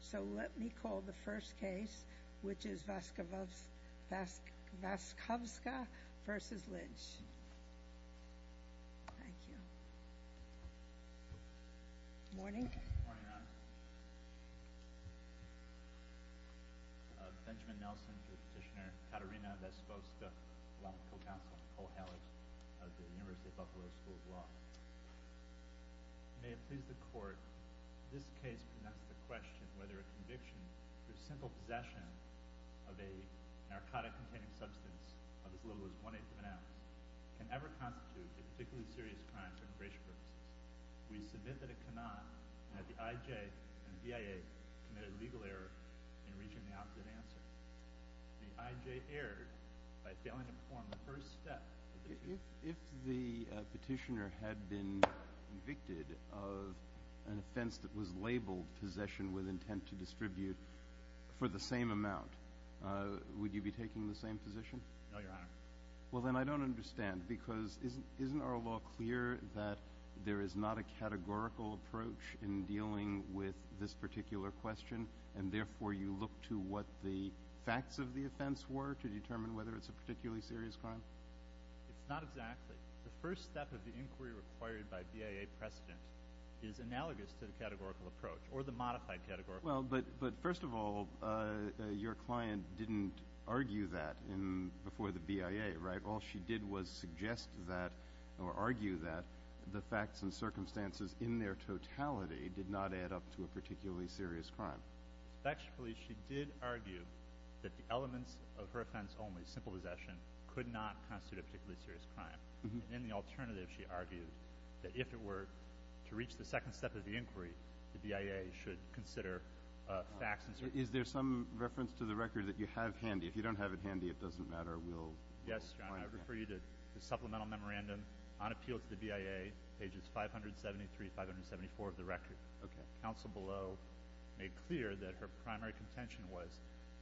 So let me call the first case, which is Vaskovska v. Lynch. Thank you. Morning. Morning, Your Honor. Benjamin Nelson, Judge Petitioner. Katerina Vaskovska, Co-Counsel Nicole Hallis of the University of Buffalo School of Law. May it please the Court, This case presents the question whether a conviction for simple possession of a narcotic-containing substance of as little as one-eighth of an ounce can ever constitute a particularly serious crime for immigration purposes. We submit that it cannot, and that the I.J. and the B.I.A. committed legal error in reaching the opposite answer. The I.J. erred by failing to perform the first step. If the petitioner had been convicted of an offense that was labeled possession with intent to distribute for the same amount, would you be taking the same position? No, Your Honor. Well, then I don't understand, because isn't our law clear that there is not a categorical approach in dealing with this particular question, and therefore you look to what the facts of the offense were to determine whether it's a particularly serious crime? It's not exactly. The first step of the inquiry required by B.I.A. precedent is analogous to the categorical approach, or the modified categorical approach. Well, but first of all, your client didn't argue that before the B.I.A., right? All she did was suggest that, or argue that, the facts and circumstances in their totality did not add up to a particularly serious crime. Respectfully, she did argue that the elements of her offense only, simple possession, could not constitute a particularly serious crime. And in the alternative, she argued that if it were to reach the second step of the inquiry, the B.I.A. should consider facts and circumstances. Is there some reference to the record that you have handy? If you don't have it handy, it doesn't matter. We'll find it. Yes, Your Honor. I refer you to the supplemental memorandum on appeal to the B.I.A., pages 573 and 574 of the record. Okay. Counsel below made clear that her primary contention was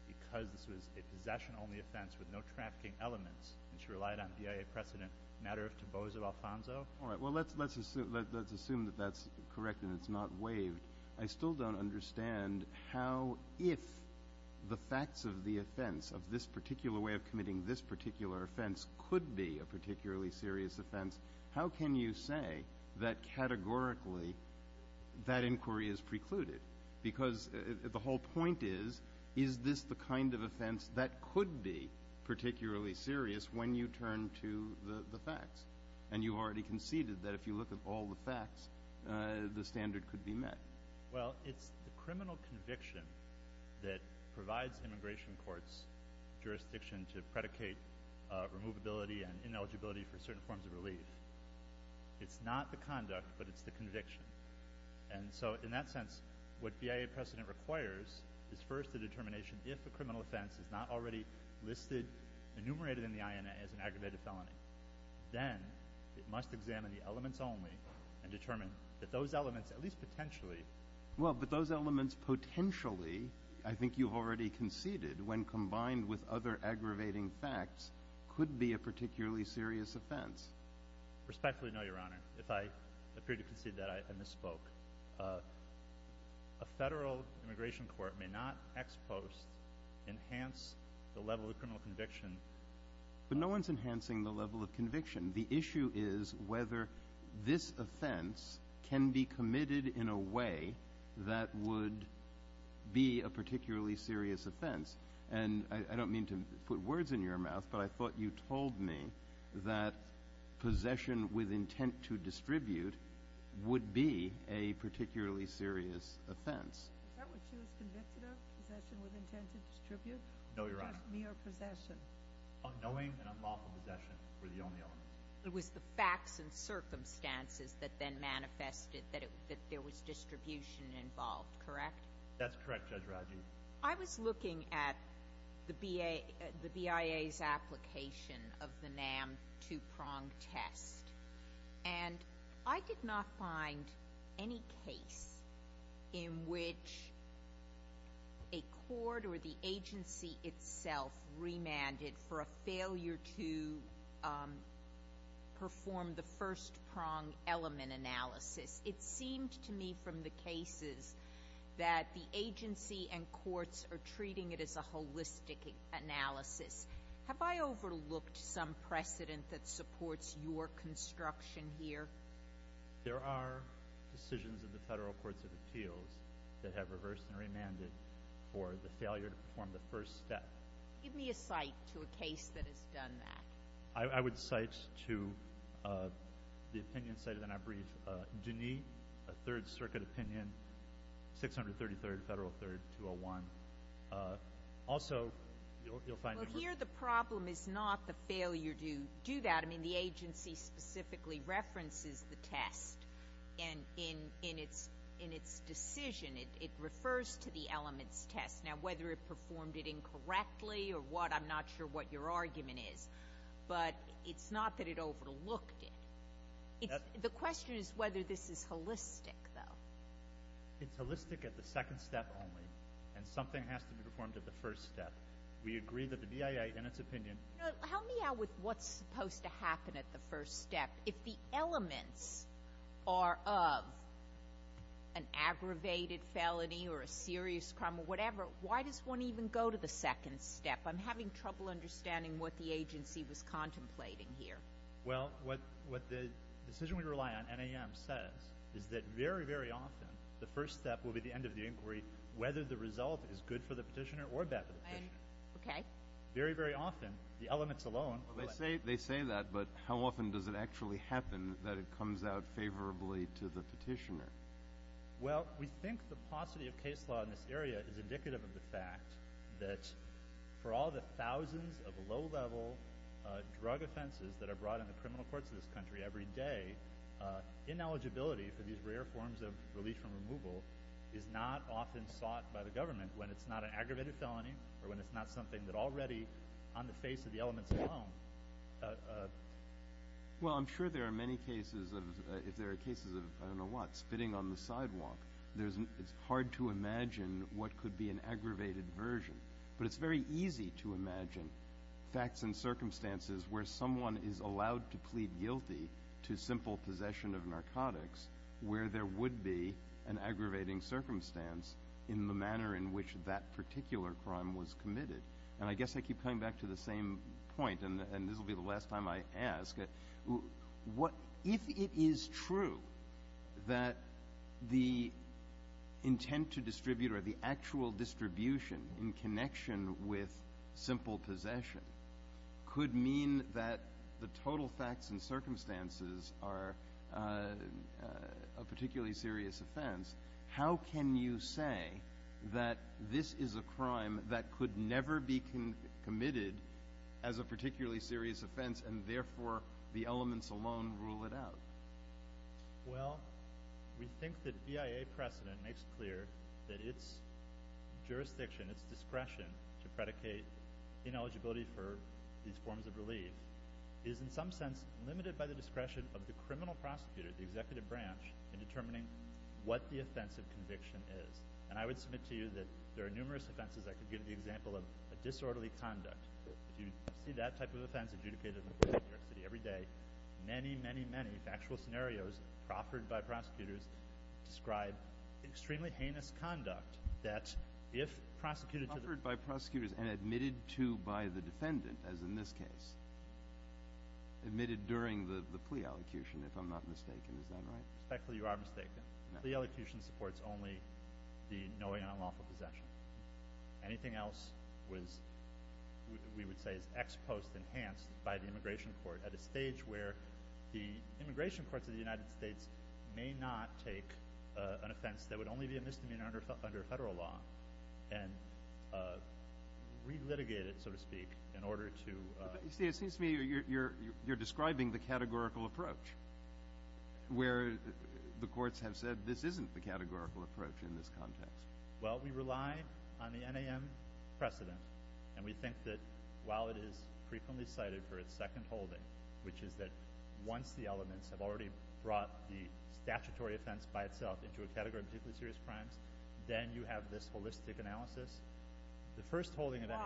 because this was a possession-only offense with no trafficking elements, and she relied on B.I.A. precedent, matter of taboos of Alfonso. All right. Well, let's assume that that's correct and it's not waived. I still don't understand how, if the facts of the offense, of this particular way of committing this particular offense, could be a particularly serious offense, how can you say that categorically that inquiry is precluded? Because the whole point is, is this the kind of offense that could be particularly serious when you turn to the facts? And you already conceded that if you look at all the facts, the standard could be met. Well, it's the criminal conviction that provides immigration courts jurisdiction to predicate removability and ineligibility for certain forms of relief. It's not the conduct, but it's the conviction. And so in that sense, what B.I.A. precedent requires is first a determination, if a criminal offense is not already listed, enumerated in the INA as an aggravated felony, then it must examine the elements only and determine that those elements, at least potentially. Well, but those elements potentially, I think you've already conceded, when combined with other aggravating facts, could be a particularly serious offense. Respectfully, no, Your Honor. If I appear to concede that, I misspoke. A federal immigration court may not ex post enhance the level of criminal conviction. But no one's enhancing the level of conviction. The issue is whether this offense can be committed in a way that would be a particularly serious offense. And I don't mean to put words in your mouth, but I thought you told me that possession with intent to distribute would be a particularly serious offense. Is that what she was convicted of, possession with intent to distribute? No, Your Honor. Mere possession. Unknowing and unlawful possession were the only elements. It was the facts and circumstances that then manifested that there was distribution involved, correct? That's correct, Judge Raggi. I was looking at the BIA's application of the NAM two-prong test, and I did not find any case in which a court or the agency itself remanded for a failure to perform the first-prong element analysis. It seemed to me from the cases that the agency and courts are treating it as a holistic analysis. Have I overlooked some precedent that supports your construction here? There are decisions in the federal courts of appeals that have reversed and remanded for the failure to perform the first step. Give me a cite to a case that has done that. I would cite to the opinion cited in our brief. A Third Circuit opinion, 633rd Federal Third 201. Also, you'll find it. Well, here the problem is not the failure to do that. I mean, the agency specifically references the test in its decision. It refers to the elements test. Now, whether it performed it incorrectly or what, I'm not sure what your argument is. But it's not that it overlooked it. The question is whether this is holistic, though. It's holistic at the second step only, and something has to be performed at the first step. We agree that the BIA, in its opinion — Help me out with what's supposed to happen at the first step. If the elements are of an aggravated felony or a serious crime or whatever, why does one even go to the second step? I'm having trouble understanding what the agency was contemplating here. Well, what the decision we rely on, NAM, says is that very, very often the first step will be the end of the inquiry, whether the result is good for the petitioner or bad for the petitioner. Okay. Very, very often the elements alone— They say that, but how often does it actually happen that it comes out favorably to the petitioner? Well, we think the paucity of case law in this area is indicative of the fact that for all the thousands of low-level drug offenses that are brought into criminal courts in this country every day, ineligibility for these rare forms of relief from removal is not often sought by the government when it's not an aggravated felony or when it's not something that already, on the face of the elements alone— Well, I'm sure there are many cases of, I don't know what, spitting on the sidewalk. It's hard to imagine what could be an aggravated version, but it's very easy to imagine facts and circumstances where someone is allowed to plead guilty to simple possession of narcotics where there would be an aggravating circumstance in the manner in which that particular crime was committed. And I guess I keep coming back to the same point, and this will be the last time I ask. If it is true that the intent to distribute or the actual distribution in connection with simple possession could mean that the total facts and circumstances are a particularly serious offense, how can you say that this is a crime that could never be committed as a particularly serious offense and therefore the elements alone rule it out? Well, we think that VIA precedent makes clear that its jurisdiction, its discretion to predicate ineligibility for these forms of relief is in some sense limited by the discretion of the criminal prosecutor, the executive branch, in determining what the offense of conviction is. And I would submit to you that there are numerous offenses that could give the example of disorderly conduct. If you see that type of offense adjudicated in New York City every day, many, many, many factual scenarios offered by prosecutors describe extremely heinous conduct that if prosecuted to the… Offered by prosecutors and admitted to by the defendant, as in this case. Admitted during the plea elocution, if I'm not mistaken. Is that right? Respectfully, you are mistaken. The elocution supports only the knowing unlawful possession. Anything else we would say is ex post enhanced by the immigration court at a stage where the immigration courts of the United States may not take an offense that would only be a misdemeanor under federal law and relitigate it, so to speak, in order to… It seems to me you're describing the categorical approach, where the courts have said this isn't the categorical approach in this context. Well, we rely on the NAM precedent. And we think that while it is frequently cited for its second holding, which is that once the elements have already brought the statutory offense by itself into a category of particularly serious crimes, then you have this holistic analysis. The first holding of NAM… Why?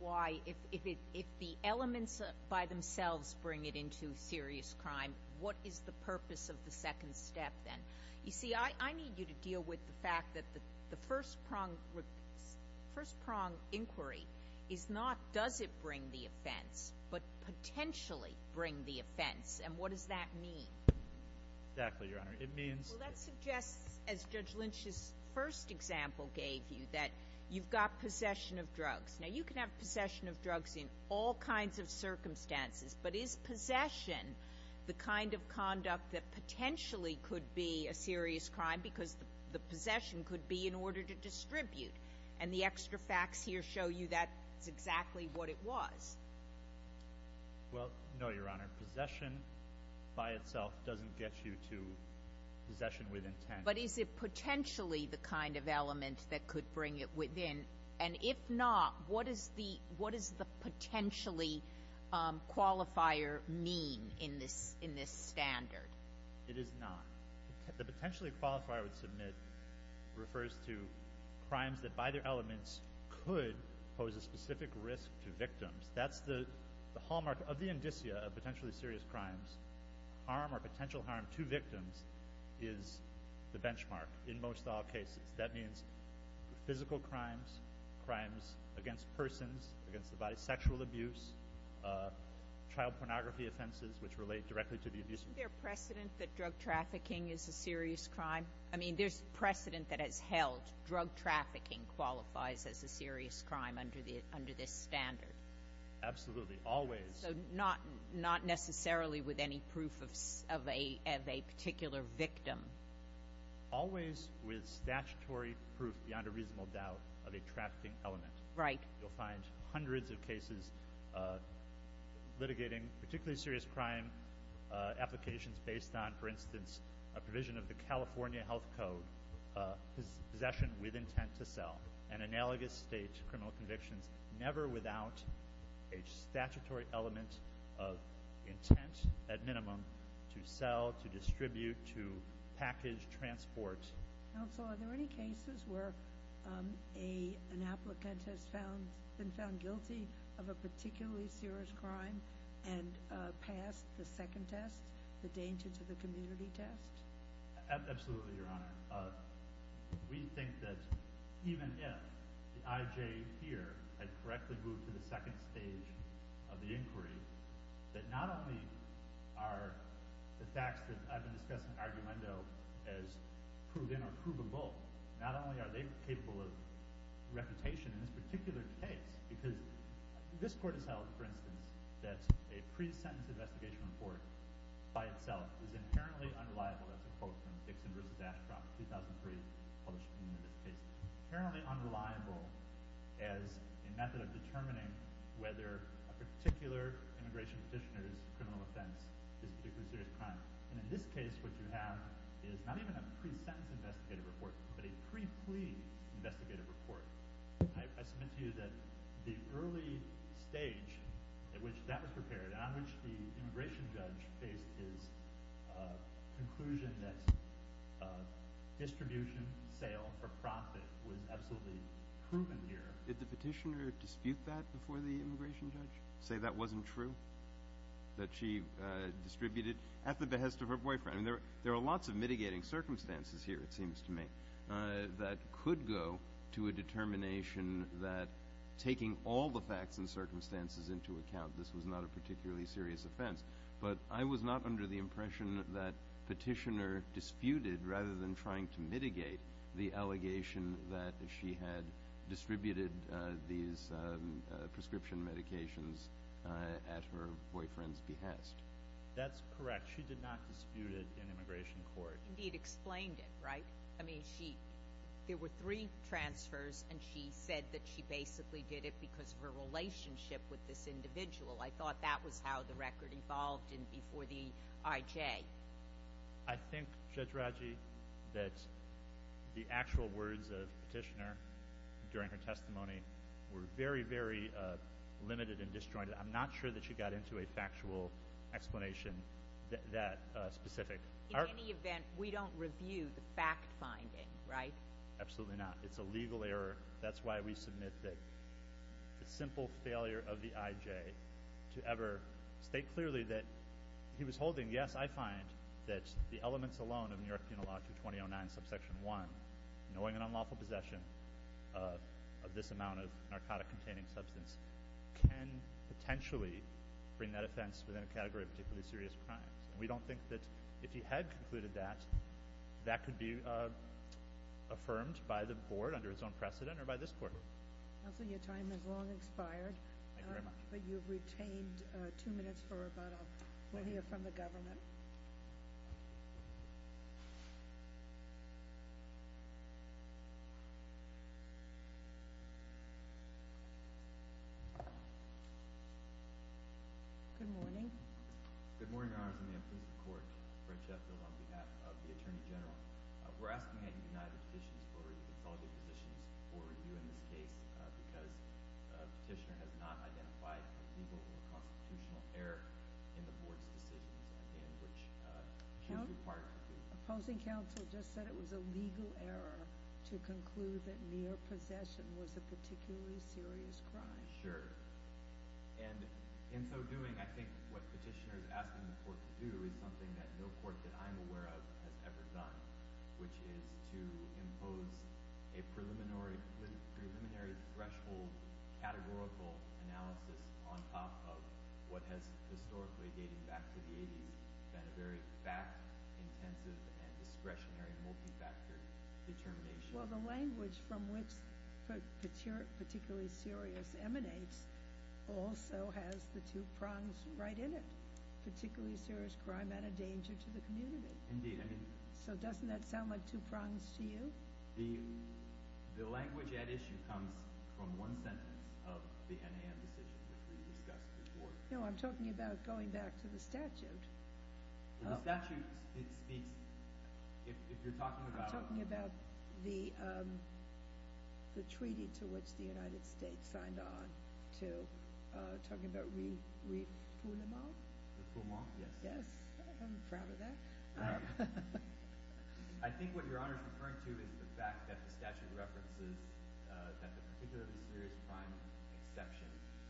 Why? If the elements by themselves bring it into serious crime, what is the purpose of the second step then? You see, I need you to deal with the fact that the first prong inquiry is not does it bring the offense, but potentially bring the offense. And what does that mean? Exactly, Your Honor. It means… Well, that suggests, as Judge Lynch's first example gave you, that you've got possession of drugs. Now, you can have possession of drugs in all kinds of circumstances, but is possession the kind of conduct that potentially could be a serious crime because the possession could be in order to distribute? And the extra facts here show you that's exactly what it was. Well, no, Your Honor. Possession by itself doesn't get you to possession with intent. But is it potentially the kind of element that could bring it within? And if not, what does the potentially qualifier mean in this standard? It is not. The potentially qualifier we submit refers to crimes that by their elements could pose a specific risk to victims. That's the hallmark of the indicia of potentially serious crimes. Harm or potential harm to victims is the benchmark in most all cases. That means physical crimes, crimes against persons, against the body, sexual abuse, child pornography offenses, which relate directly to the abuser. Is there precedent that drug trafficking is a serious crime? I mean, there's precedent that has held drug trafficking qualifies as a serious crime under this standard. Absolutely. Always. So not necessarily with any proof of a particular victim. Always with statutory proof beyond a reasonable doubt of a trafficking element. Right. You'll find hundreds of cases litigating particularly serious crime applications based on, for instance, a provision of the California Health Code, possession with intent to sell, and analogous state criminal convictions never without a statutory element of intent, at minimum, to sell, to distribute, to package, transport. Counsel, are there any cases where an applicant has been found guilty of a particularly serious crime and passed the second test, the danger to the community test? Absolutely, Your Honor. We think that even if the IJ here had correctly moved to the second stage of the inquiry, that not only are the facts that I've been discussing in argumento as proven or provable, not only are they capable of reputation in this particular case, because this Court has held, for instance, that a pre-sentence investigation report by itself is inherently unreliable, that's a quote from Dixon v. Ashcroft, 2003, published in this case, is inherently unreliable as a method of determining whether a particular immigration petitioner's criminal offense is a particularly serious crime. And in this case, what you have is not even a pre-sentence investigative report, but a pre-plea investigative report. I submit to you that the early stage at which that was prepared, on which the immigration judge faced his conclusion that distribution, sale for profit, was absolutely proven here. Did the petitioner dispute that before the immigration judge, say that wasn't true, that she distributed at the behest of her boyfriend? There are lots of mitigating circumstances here, it seems to me, that could go to a determination that taking all the facts and circumstances into account, this was not a particularly serious offense. But I was not under the impression that petitioner disputed, rather than trying to mitigate, the allegation that she had distributed these prescription medications at her boyfriend's behest. That's correct. She did not dispute it in immigration court. Indeed, explained it, right? There were three transfers, and she said that she basically did it because of her relationship with this individual. I thought that was how the record evolved before the IJ. I think, Judge Raggi, that the actual words of the petitioner during her testimony were very, very limited and disjointed. I'm not sure that she got into a factual explanation that specific. In any event, we don't review the fact-finding, right? Absolutely not. It's a legal error. That's why we submit that the simple failure of the IJ to ever state clearly that he was holding, yes, I find that the elements alone of New York Penal Law 2209, subsection 1, knowing an unlawful possession of this amount of narcotic-containing substance, can potentially bring that offense within a category of particularly serious crimes. We don't think that if he had concluded that, that could be affirmed by the board under its own precedent or by this court. Counsel, your time has long expired. Thank you very much. But you've retained two minutes for about a minute from the government. Good morning. Good morning, Your Honor. I'm from the Implicit Court. Brent Shetfield on behalf of the Attorney General. We're asking that you deny the petitioner's authority to consolidate positions for review in this case because the petitioner has not identified a legal or constitutional error in the board's decisions in which she was required to do so. Counsel, opposing counsel just said it was a legal error to conclude that mere possession was a particularly serious crime. And in so doing, I think what the petitioner is asking the court to do is something that no court that I'm aware of has ever done, which is to impose a preliminary threshold categorical analysis on top of what has historically, dating back to the 80s, been a very fact-intensive and discretionary multi-factor determination. Well, the language from which particularly serious emanates also has the two prongs right in it, particularly serious crime and a danger to the community. Indeed. So doesn't that sound like two prongs to you? The language at issue comes from one sentence of the NAM decision that we discussed before. No, I'm talking about going back to the statute. The statute speaks, if you're talking about – the treaty to which the United States signed on to talking about refoulement? Refoulement, yes. Yes, I'm proud of that. I think what Your Honor is referring to is the fact that the statute references that the particularly serious crime exception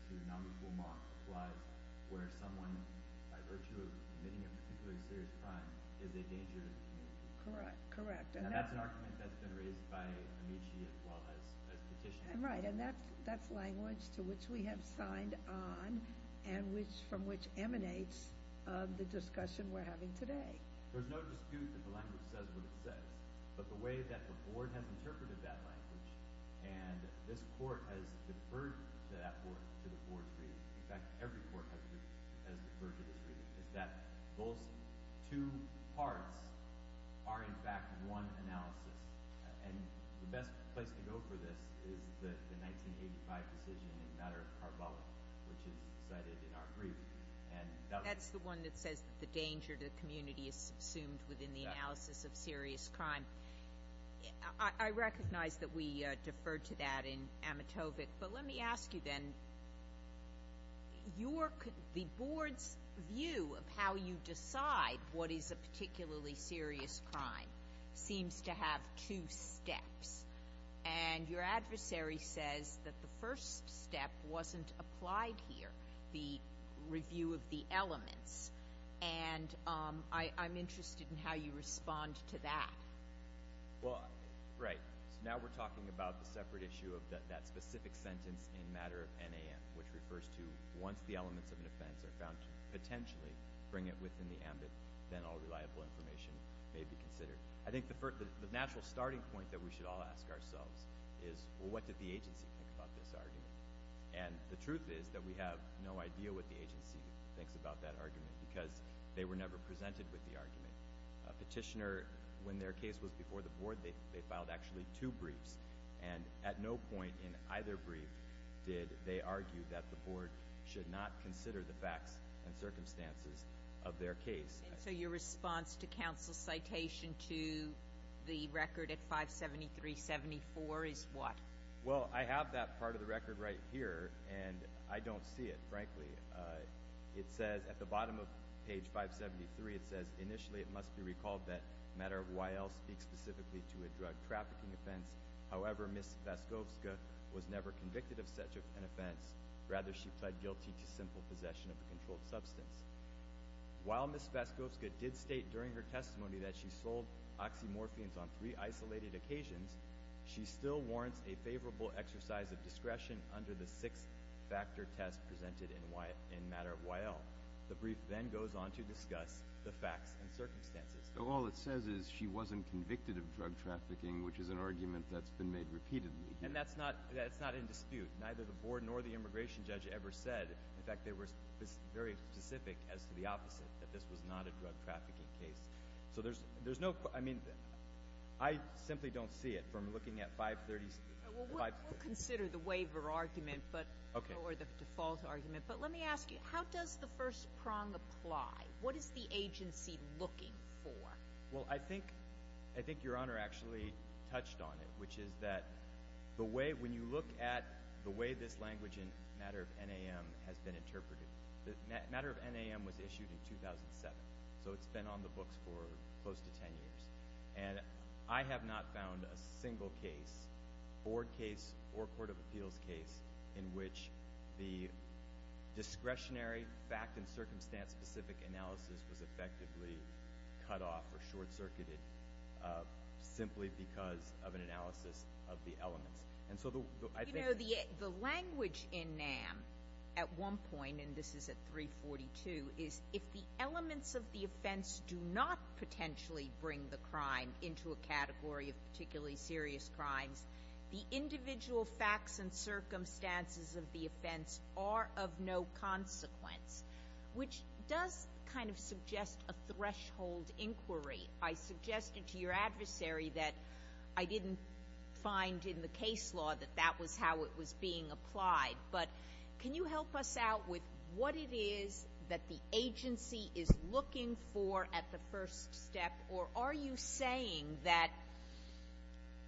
to non-refoulement applies where someone, by virtue of committing a particularly serious crime, is a danger to the community. Correct, correct. That's an argument that's been raised by Amici as well as Petitioner. Right, and that's language to which we have signed on and from which emanates the discussion we're having today. There's no dispute that the language says what it says, but the way that the Board has interpreted that language and this Court has deferred to that Board, to the Board's reading – in fact, every Court has deferred to this reading – is that those two parts are, in fact, one analysis. And the best place to go for this is the 1985 decision in the matter of Karbala, which is cited in R3. That's the one that says that the danger to the community is assumed within the analysis of serious crime. I recognize that we deferred to that in Amitovic. But let me ask you then, the Board's view of how you decide what is a particularly serious crime seems to have two steps. And your adversary says that the first step wasn't applied here, the review of the elements. And I'm interested in how you respond to that. Well, right. So now we're talking about the separate issue of that specific sentence in matter of NAM, which refers to once the elements of an offense are found to potentially bring it within the ambit, then all reliable information may be considered. I think the natural starting point that we should all ask ourselves is, well, what did the agency think about this argument? And the truth is that we have no idea what the agency thinks about that argument because they were never presented with the argument. A petitioner, when their case was before the Board, they filed actually two briefs. And at no point in either brief did they argue that the Board should not consider the facts and circumstances of their case. And so your response to counsel's citation to the record at 573.74 is what? Well, I have that part of the record right here, and I don't see it, frankly. It says at the bottom of page 573, it says, initially, it must be recalled that a matter of YL speaks specifically to a drug trafficking offense. However, Ms. Vaskovska was never convicted of such an offense. Rather, she pled guilty to simple possession of a controlled substance. While Ms. Vaskovska did state during her testimony that she sold oxymorphines on three isolated occasions, she still warrants a favorable exercise of discretion under the six-factor test presented in matter of YL. The brief then goes on to discuss the facts and circumstances. So all it says is she wasn't convicted of drug trafficking, which is an argument that's been made repeatedly. And that's not in dispute. Neither the Board nor the immigration judge ever said. In fact, they were very specific as to the opposite, that this was not a drug trafficking case. So there's no – I mean, I simply don't see it from looking at 536. We'll consider the waiver argument, but – or the default argument. But let me ask you, how does the first prong apply? What is the agency looking for? Well, I think Your Honor actually touched on it, which is that the way – when you look at the way this language in matter of NAM has been interpreted, matter of NAM was issued in 2007, so it's been on the books for close to 10 years. And I have not found a single case, Board case or Court of Appeals case, in which the discretionary fact and circumstance-specific analysis was effectively cut off or short-circuited simply because of an analysis of the elements. You know, the language in NAM at one point, and this is at 342, is if the elements of the offense do not potentially bring the crime into a category of particularly serious crimes, the individual facts and circumstances of the offense are of no consequence, which does kind of suggest a threshold inquiry. I suggested to your adversary that I didn't find in the case law that that was how it was being applied. But can you help us out with what it is that the agency is looking for at the first step, or are you saying that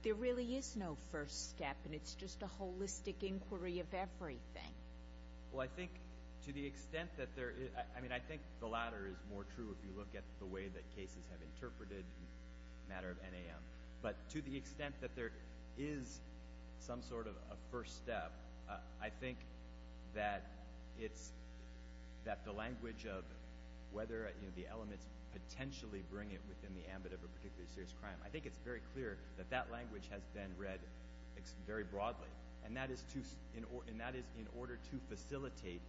there really is no first step and it's just a holistic inquiry of everything? Well, I think to the extent that there – I mean, I think the latter is more true if you look at the way that cases have interpreted the matter of NAM. But to the extent that there is some sort of a first step, I think that it's – that the language of whether the elements potentially bring it within the ambit of a particularly serious crime, I think it's very clear that that language has been read very broadly. And that is in order to facilitate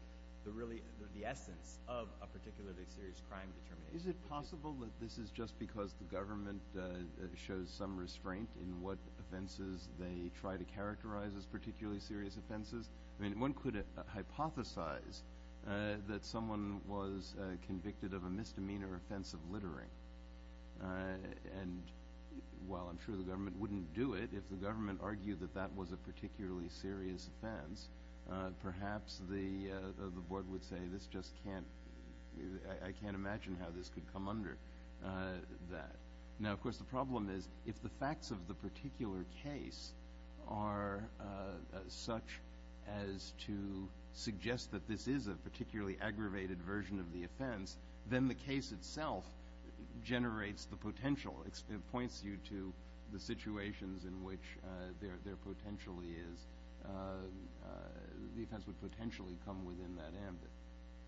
the essence of a particularly serious crime determination. Is it possible that this is just because the government shows some restraint in what offenses they try to characterize as particularly serious offenses? I mean, one could hypothesize that someone was convicted of a misdemeanor offense of littering. And while I'm sure the government wouldn't do it, if the government argued that that was a particularly serious offense, perhaps the board would say this just can't – I can't imagine how this could come under that. Now, of course, the problem is if the facts of the particular case are such as to suggest that this is a particularly aggravated version of the offense, then the case itself generates the potential. It points you to the situations in which there potentially is – the offense would potentially come within that ambit.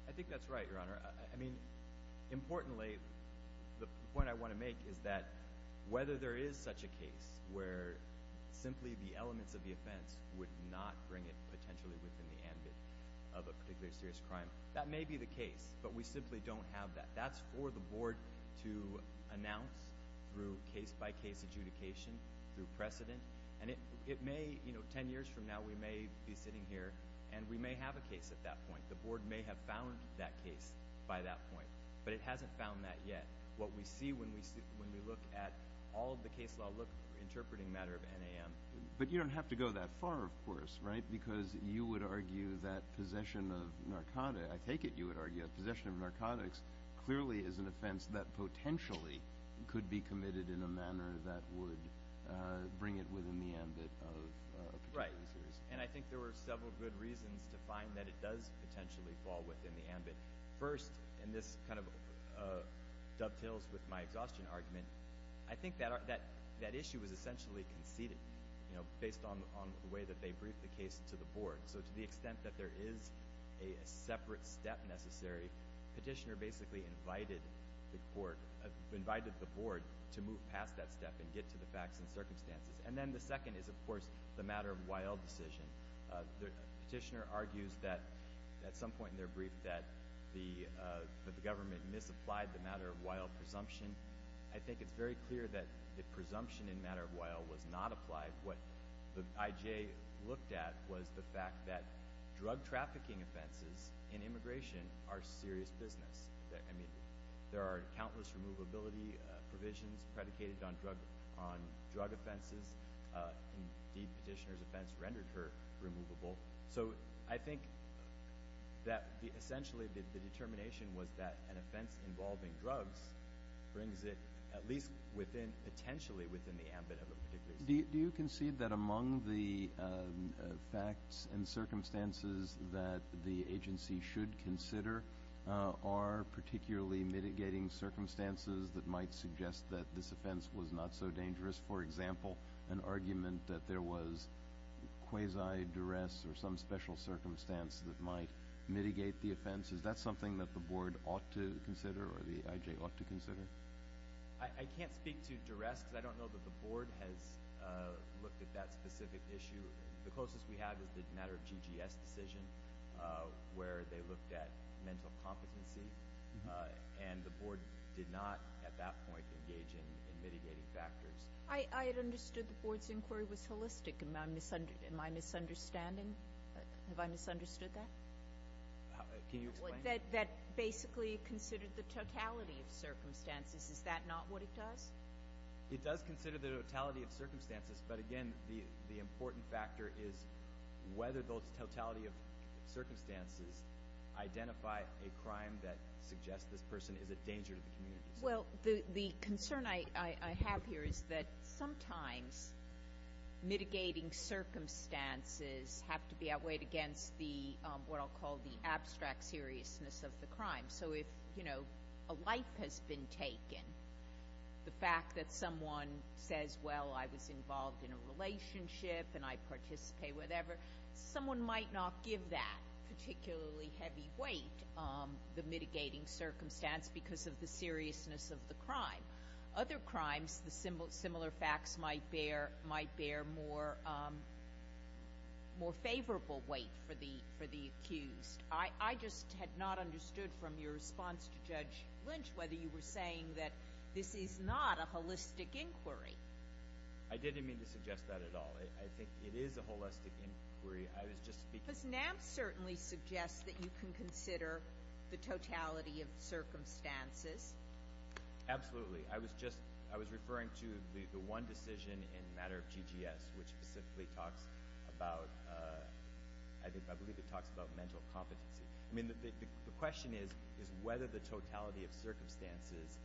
I think that's right, Your Honor. I mean, importantly, the point I want to make is that whether there is such a case where simply the elements of the offense would not bring it potentially within the ambit of a particularly serious crime, that may be the case, but we simply don't have that. That's for the board to announce through case-by-case adjudication, through precedent. And it may – you know, ten years from now, we may be sitting here, and we may have a case at that point. The board may have found that case by that point, but it hasn't found that yet. What we see when we look at all of the case law, look, we're interpreting a matter of NAM. But you don't have to go that far, of course, right? Because you would argue that possession of narcotics – I take it you would argue that possession of narcotics clearly is an offense that potentially could be committed in a manner that would bring it within the ambit of a particularly serious – Right, and I think there were several good reasons to find that it does potentially fall within the ambit. First, and this kind of dovetails with my exhaustion argument, I think that issue was essentially conceded, you know, based on the way that they briefed the case to the board. So to the extent that there is a separate step necessary, Petitioner basically invited the board to move past that step and get to the facts and circumstances. And then the second is, of course, the matter-of-while decision. Petitioner argues that at some point in their brief that the government misapplied the matter-of-while presumption. I think it's very clear that the presumption in matter-of-while was not applied. What the IJ looked at was the fact that drug-trafficking offenses in immigration are serious business. I mean, there are countless removability provisions predicated on drug offenses. Indeed, Petitioner's offense rendered her removable. So I think that essentially the determination was that an offense involving drugs brings it at least potentially within the ambit of a particularly serious offense. Do you concede that among the facts and circumstances that the agency should consider are particularly mitigating circumstances that might suggest that this offense was not so dangerous? For example, an argument that there was quasi-duress or some special circumstance that might mitigate the offense. Is that something that the board ought to consider or the IJ ought to consider? I can't speak to duress because I don't know that the board has looked at that specific issue. The closest we have is the matter of GGS decision where they looked at mental competency. And the board did not at that point engage in mitigating factors. I had understood the board's inquiry was holistic. Am I misunderstanding? Have I misunderstood that? Can you explain? That basically considered the totality of circumstances. Is that not what it does? It does consider the totality of circumstances, but, again, the important factor is whether those totality of circumstances identify a crime that suggests this person is a danger to the community. Well, the concern I have here is that sometimes mitigating circumstances have to be outweighed against what I'll call the abstract seriousness of the crime. So if a life has been taken, the fact that someone says, well, I was involved in a relationship and I participate, whatever, someone might not give that particularly heavy weight, the mitigating circumstance because of the seriousness of the crime. Other crimes, similar facts might bear more favorable weight for the accused. I just had not understood from your response to Judge Lynch whether you were saying that this is not a holistic inquiry. I didn't mean to suggest that at all. I think it is a holistic inquiry. I was just speaking to you. Because NAB certainly suggests that you can consider the totality of circumstances. Absolutely. I was referring to the one decision in the matter of TGS, which specifically talks about, I believe it talks about mental competency. The question is whether the totality of circumstances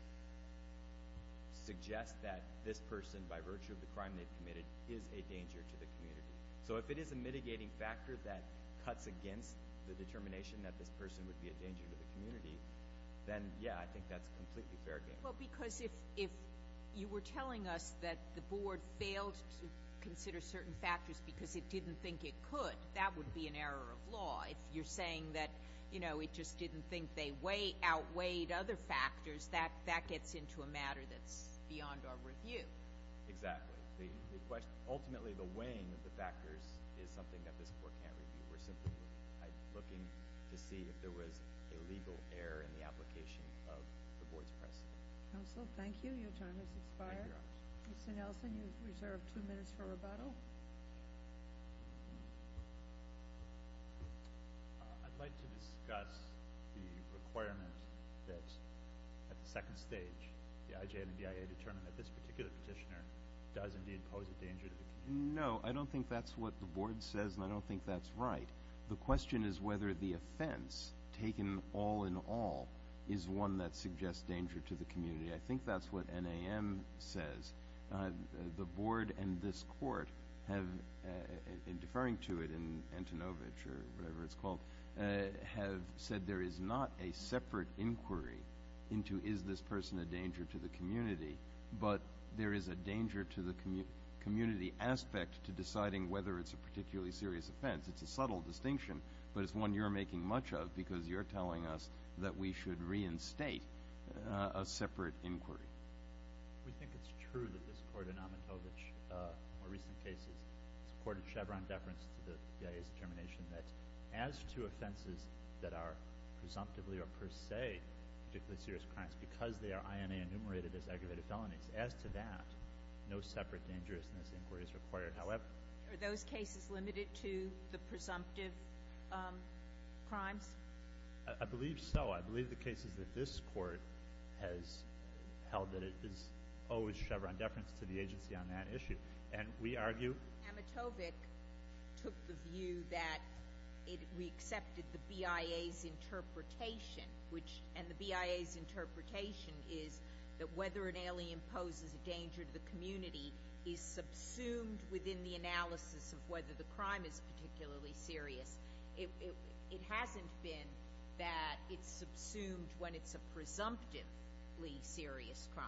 suggests that this person, by virtue of the crime they've committed, is a danger to the community. So if it is a mitigating factor that cuts against the determination that this person would be a danger to the community, then, yeah, I think that's a completely fair game. Well, because if you were telling us that the Board failed to consider certain factors because it didn't think it could, that would be an error of law. If you're saying that it just didn't think they outweighed other factors, that gets into a matter that's beyond our review. Exactly. Ultimately, the weighing of the factors is something that this Court can't review. We're simply looking to see if there was a legal error in the application of the Board's press. Counsel, thank you. Your time has expired. Thank you, Your Honor. Mr. Nelson, you've reserved two minutes for rebuttal. I'd like to discuss the requirement that, at the second stage, the IJ and the BIA determine that this particular petitioner does indeed pose a danger to the community. No, I don't think that's what the Board says, and I don't think that's right. The question is whether the offense taken all in all is one that suggests danger to the community. I think that's what NAM says. The Board and this Court, in deferring to it in Antonovich or whatever it's called, have said there is not a separate inquiry into is this person a danger to the community, but there is a danger to the community aspect to deciding whether it's a particularly serious offense. It's a subtle distinction, but it's one you're making much of because you're telling us that we should reinstate a separate inquiry. We think it's true that this Court in Amatovich, more recent cases, has courted Chevron deference to the BIA's determination that as to offenses that are presumptively or per se particularly serious crimes, because they are INA enumerated as aggravated felonies, as to that, no separate dangerousness inquiry is required. Are those cases limited to the presumptive crimes? I believe so. I believe the cases that this Court has held that owe Chevron deference to the agency on that issue. Amatovich took the view that we accepted the BIA's interpretation, and the BIA's interpretation is that whether an alien poses a danger to the community is subsumed within the analysis of whether the crime is particularly serious. It hasn't been that it's subsumed when it's a presumptively serious crime.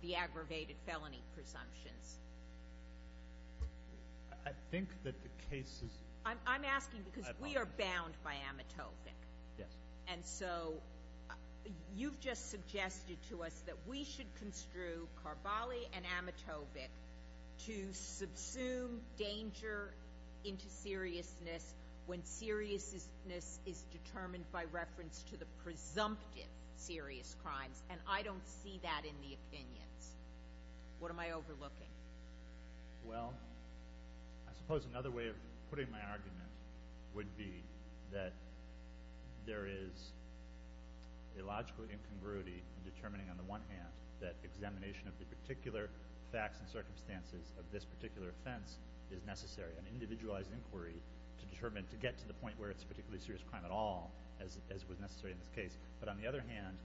The aggravated felony presumptions. I think that the cases... I'm asking because we are bound by Amatovich. Yes. And so you've just suggested to us that we should construe Carballi and Amatovich to subsume danger into seriousness when seriousness is determined by reference to the presumptive serious crimes, and I don't see that in the opinions. What am I overlooking? Well, I suppose another way of putting my argument would be that there is a logical incongruity in determining on the one hand that examination of the particular facts and circumstances of this particular offense is necessary. An individualized inquiry to determine, to get to the point where it's a particularly serious crime at all, as was necessary in this case, but on the other hand,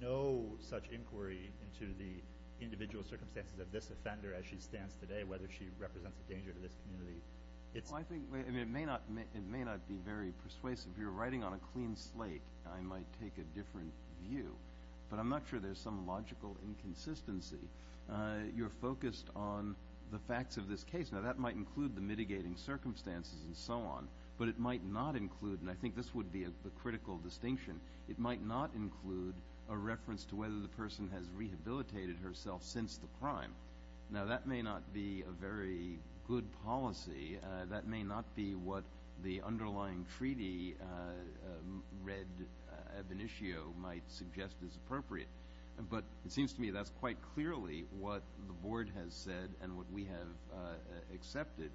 no such inquiry into the individual circumstances of this offender as she stands today, whether she represents a danger to this community. I think it may not be very persuasive. You're writing on a clean slate. I might take a different view, but I'm not sure there's some logical inconsistency. You're focused on the facts of this case. Now, that might include the mitigating circumstances and so on, but it might not include, and I think this would be a critical distinction, it might not include a reference to whether the person has rehabilitated herself since the crime. Now, that may not be a very good policy. That may not be what the underlying treaty read ab initio might suggest is appropriate. But it seems to me that's quite clearly what the Board has said and what we have accepted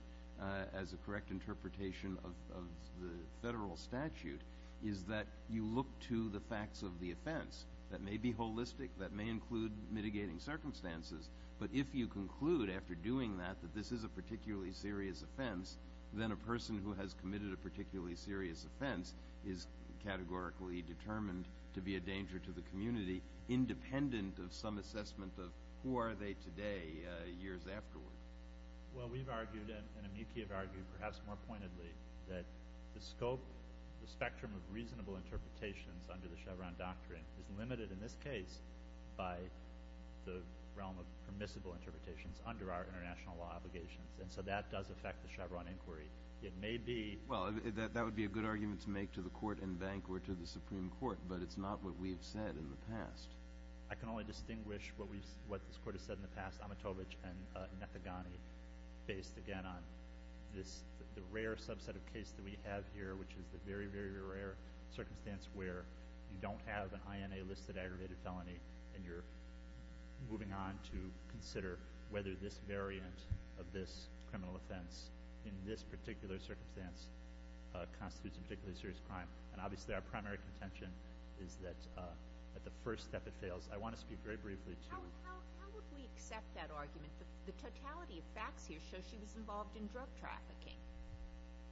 as a correct interpretation of the federal statute is that you look to the facts of the offense. That may be holistic. That may include mitigating circumstances. But if you conclude after doing that that this is a particularly serious offense, then a person who has committed a particularly serious offense is categorically determined to be a danger to the community, independent of some assessment of who are they today, years afterward. Well, we've argued and amici have argued perhaps more pointedly that the scope, the spectrum of reasonable interpretations under the Chevron doctrine is limited in this case by the realm of permissible interpretations under our international law obligations. And so that does affect the Chevron inquiry. It may be – Well, that would be a good argument to make to the court and bank or to the Supreme Court, but it's not what we've said in the past. I can only distinguish what this Court has said in the past, Amatovich and Nethegani, based again on the rare subset of case that we have here, which is the very, very rare circumstance where you don't have an INA-listed aggravated felony and you're moving on to consider whether this variant of this criminal offense in this particular circumstance constitutes a particularly serious crime. And obviously our primary contention is that at the first step it fails. I want to speak very briefly to – How would we accept that argument? The totality of facts here show she was involved in drug trafficking.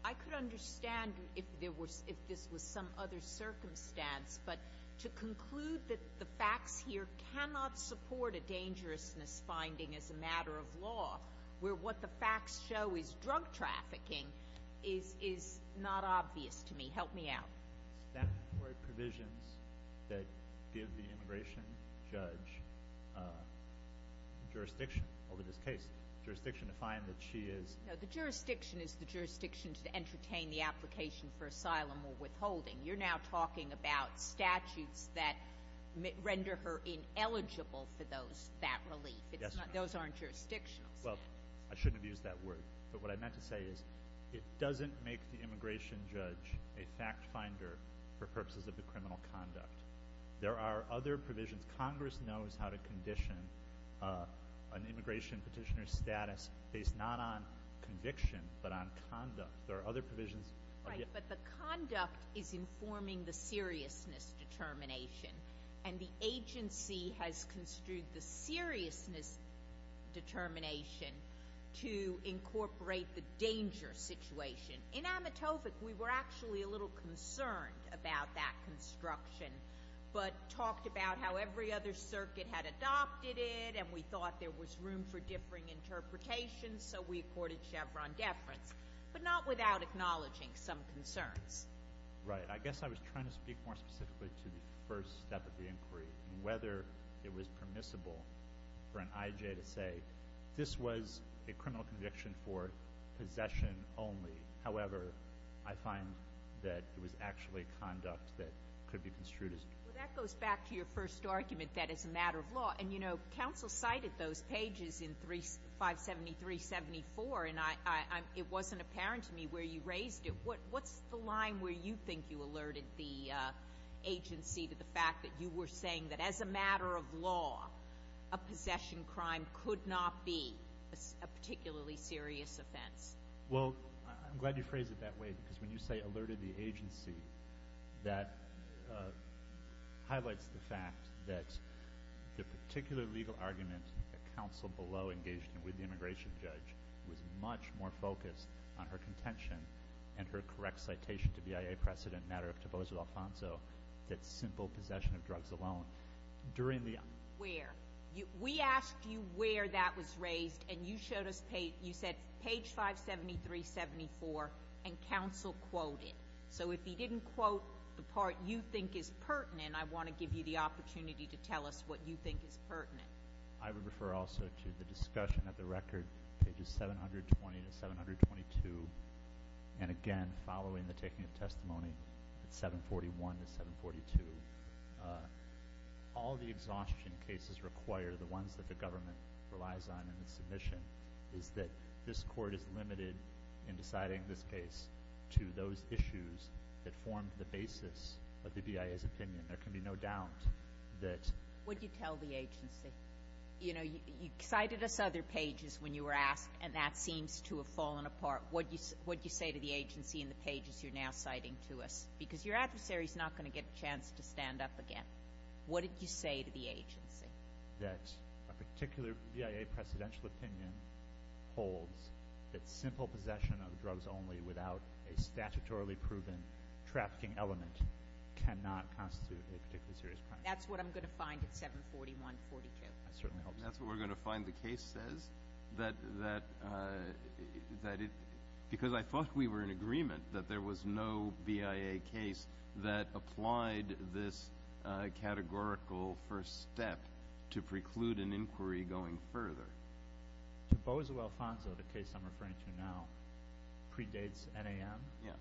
I could understand if this was some other circumstance, but to conclude that the facts here cannot support a dangerousness finding as a matter of law where what the facts show is drug trafficking is not obvious to me. Help me out. Statutory provisions that give the immigration judge jurisdiction over this case, jurisdiction to find that she is – No, the jurisdiction is the jurisdiction to entertain the application for asylum or withholding. You're now talking about statutes that render her ineligible for that relief. Those aren't jurisdictional statutes. Well, I shouldn't have used that word, but what I meant to say is it doesn't make the immigration judge a fact finder for purposes of the criminal conduct. There are other provisions. Congress knows how to condition an immigration petitioner's status based not on conviction but on conduct. There are other provisions. Right, but the conduct is informing the seriousness determination, and the agency has construed the seriousness determination to incorporate the danger situation. In Amatovic, we were actually a little concerned about that construction but talked about how every other circuit had adopted it, and we thought there was room for differing interpretations, so we accorded Chevron deference, but not without acknowledging some concerns. Right. I guess I was trying to speak more specifically to the first step of the inquiry and whether it was permissible for an IJ to say this was a criminal conviction for possession only. However, I find that it was actually conduct that could be construed as – Well, that goes back to your first argument that it's a matter of law, and, you know, counsel cited those pages in 573-74, and it wasn't apparent to me where you raised it. What's the line where you think you alerted the agency to the fact that you were saying that, as a matter of law, a possession crime could not be a particularly serious offense? Well, I'm glad you phrased it that way because when you say alerted the agency, that highlights the fact that the particular legal argument that counsel below engaged in with the immigration judge was much more focused on her contention and her correct citation to BIA precedent in the matter of Toboso Alfonso that simple possession of drugs alone. Where? We asked you where that was raised, and you showed us – you said page 573-74, and counsel quoted. So if he didn't quote the part you think is pertinent, I want to give you the opportunity to tell us what you think is pertinent. I would refer also to the discussion of the record, pages 720-722, and again following the taking of testimony at 741-742. All the exhaustion cases require, the ones that the government relies on in the submission, is that this court is limited in deciding this case to those issues that formed the basis of the BIA's opinion. There can be no doubt that – What did you tell the agency? You cited us other pages when you were asked, and that seems to have fallen apart. What did you say to the agency in the pages you're now citing to us? Because your adversary is not going to get a chance to stand up again. What did you say to the agency? That a particular BIA precedential opinion holds that simple possession of drugs only without a statutorily proven trafficking element cannot constitute a particularly serious crime. That's what I'm going to find at 741-42. That certainly helps. That's what we're going to find the case says? That it – because I thought we were in agreement that there was no BIA case that applied this categorical first step to preclude an inquiry going further. To Bozo Alfonso, the case I'm referring to now, predates NAM. Yeah.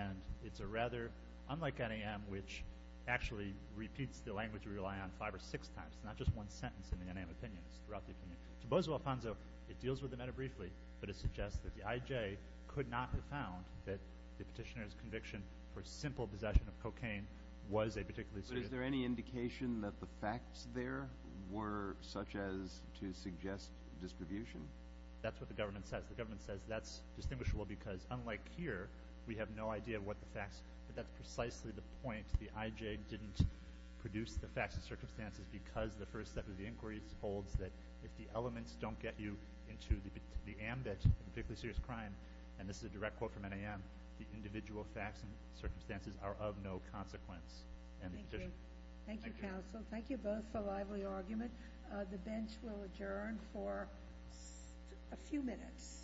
And it's a rather – unlike NAM, which actually repeats the language we rely on five or six times, not just one sentence in the NAM opinion, it's throughout the opinion. To Bozo Alfonso, it deals with the matter briefly, but it suggests that the IJ could not have found that the petitioner's conviction for simple possession of cocaine was a particularly serious – Was there any indication that the facts there were such as to suggest distribution? That's what the government says. The government says that's distinguishable because, unlike here, we have no idea what the facts – but that's precisely the point. The IJ didn't produce the facts and circumstances because the first step of the inquiry holds that if the elements don't get you into the ambit of a particularly serious crime, and this is a direct quote from NAM, the individual facts and circumstances are of no consequence. Thank you. Thank you, counsel. Thank you both for a lively argument. The bench will adjourn for a few minutes.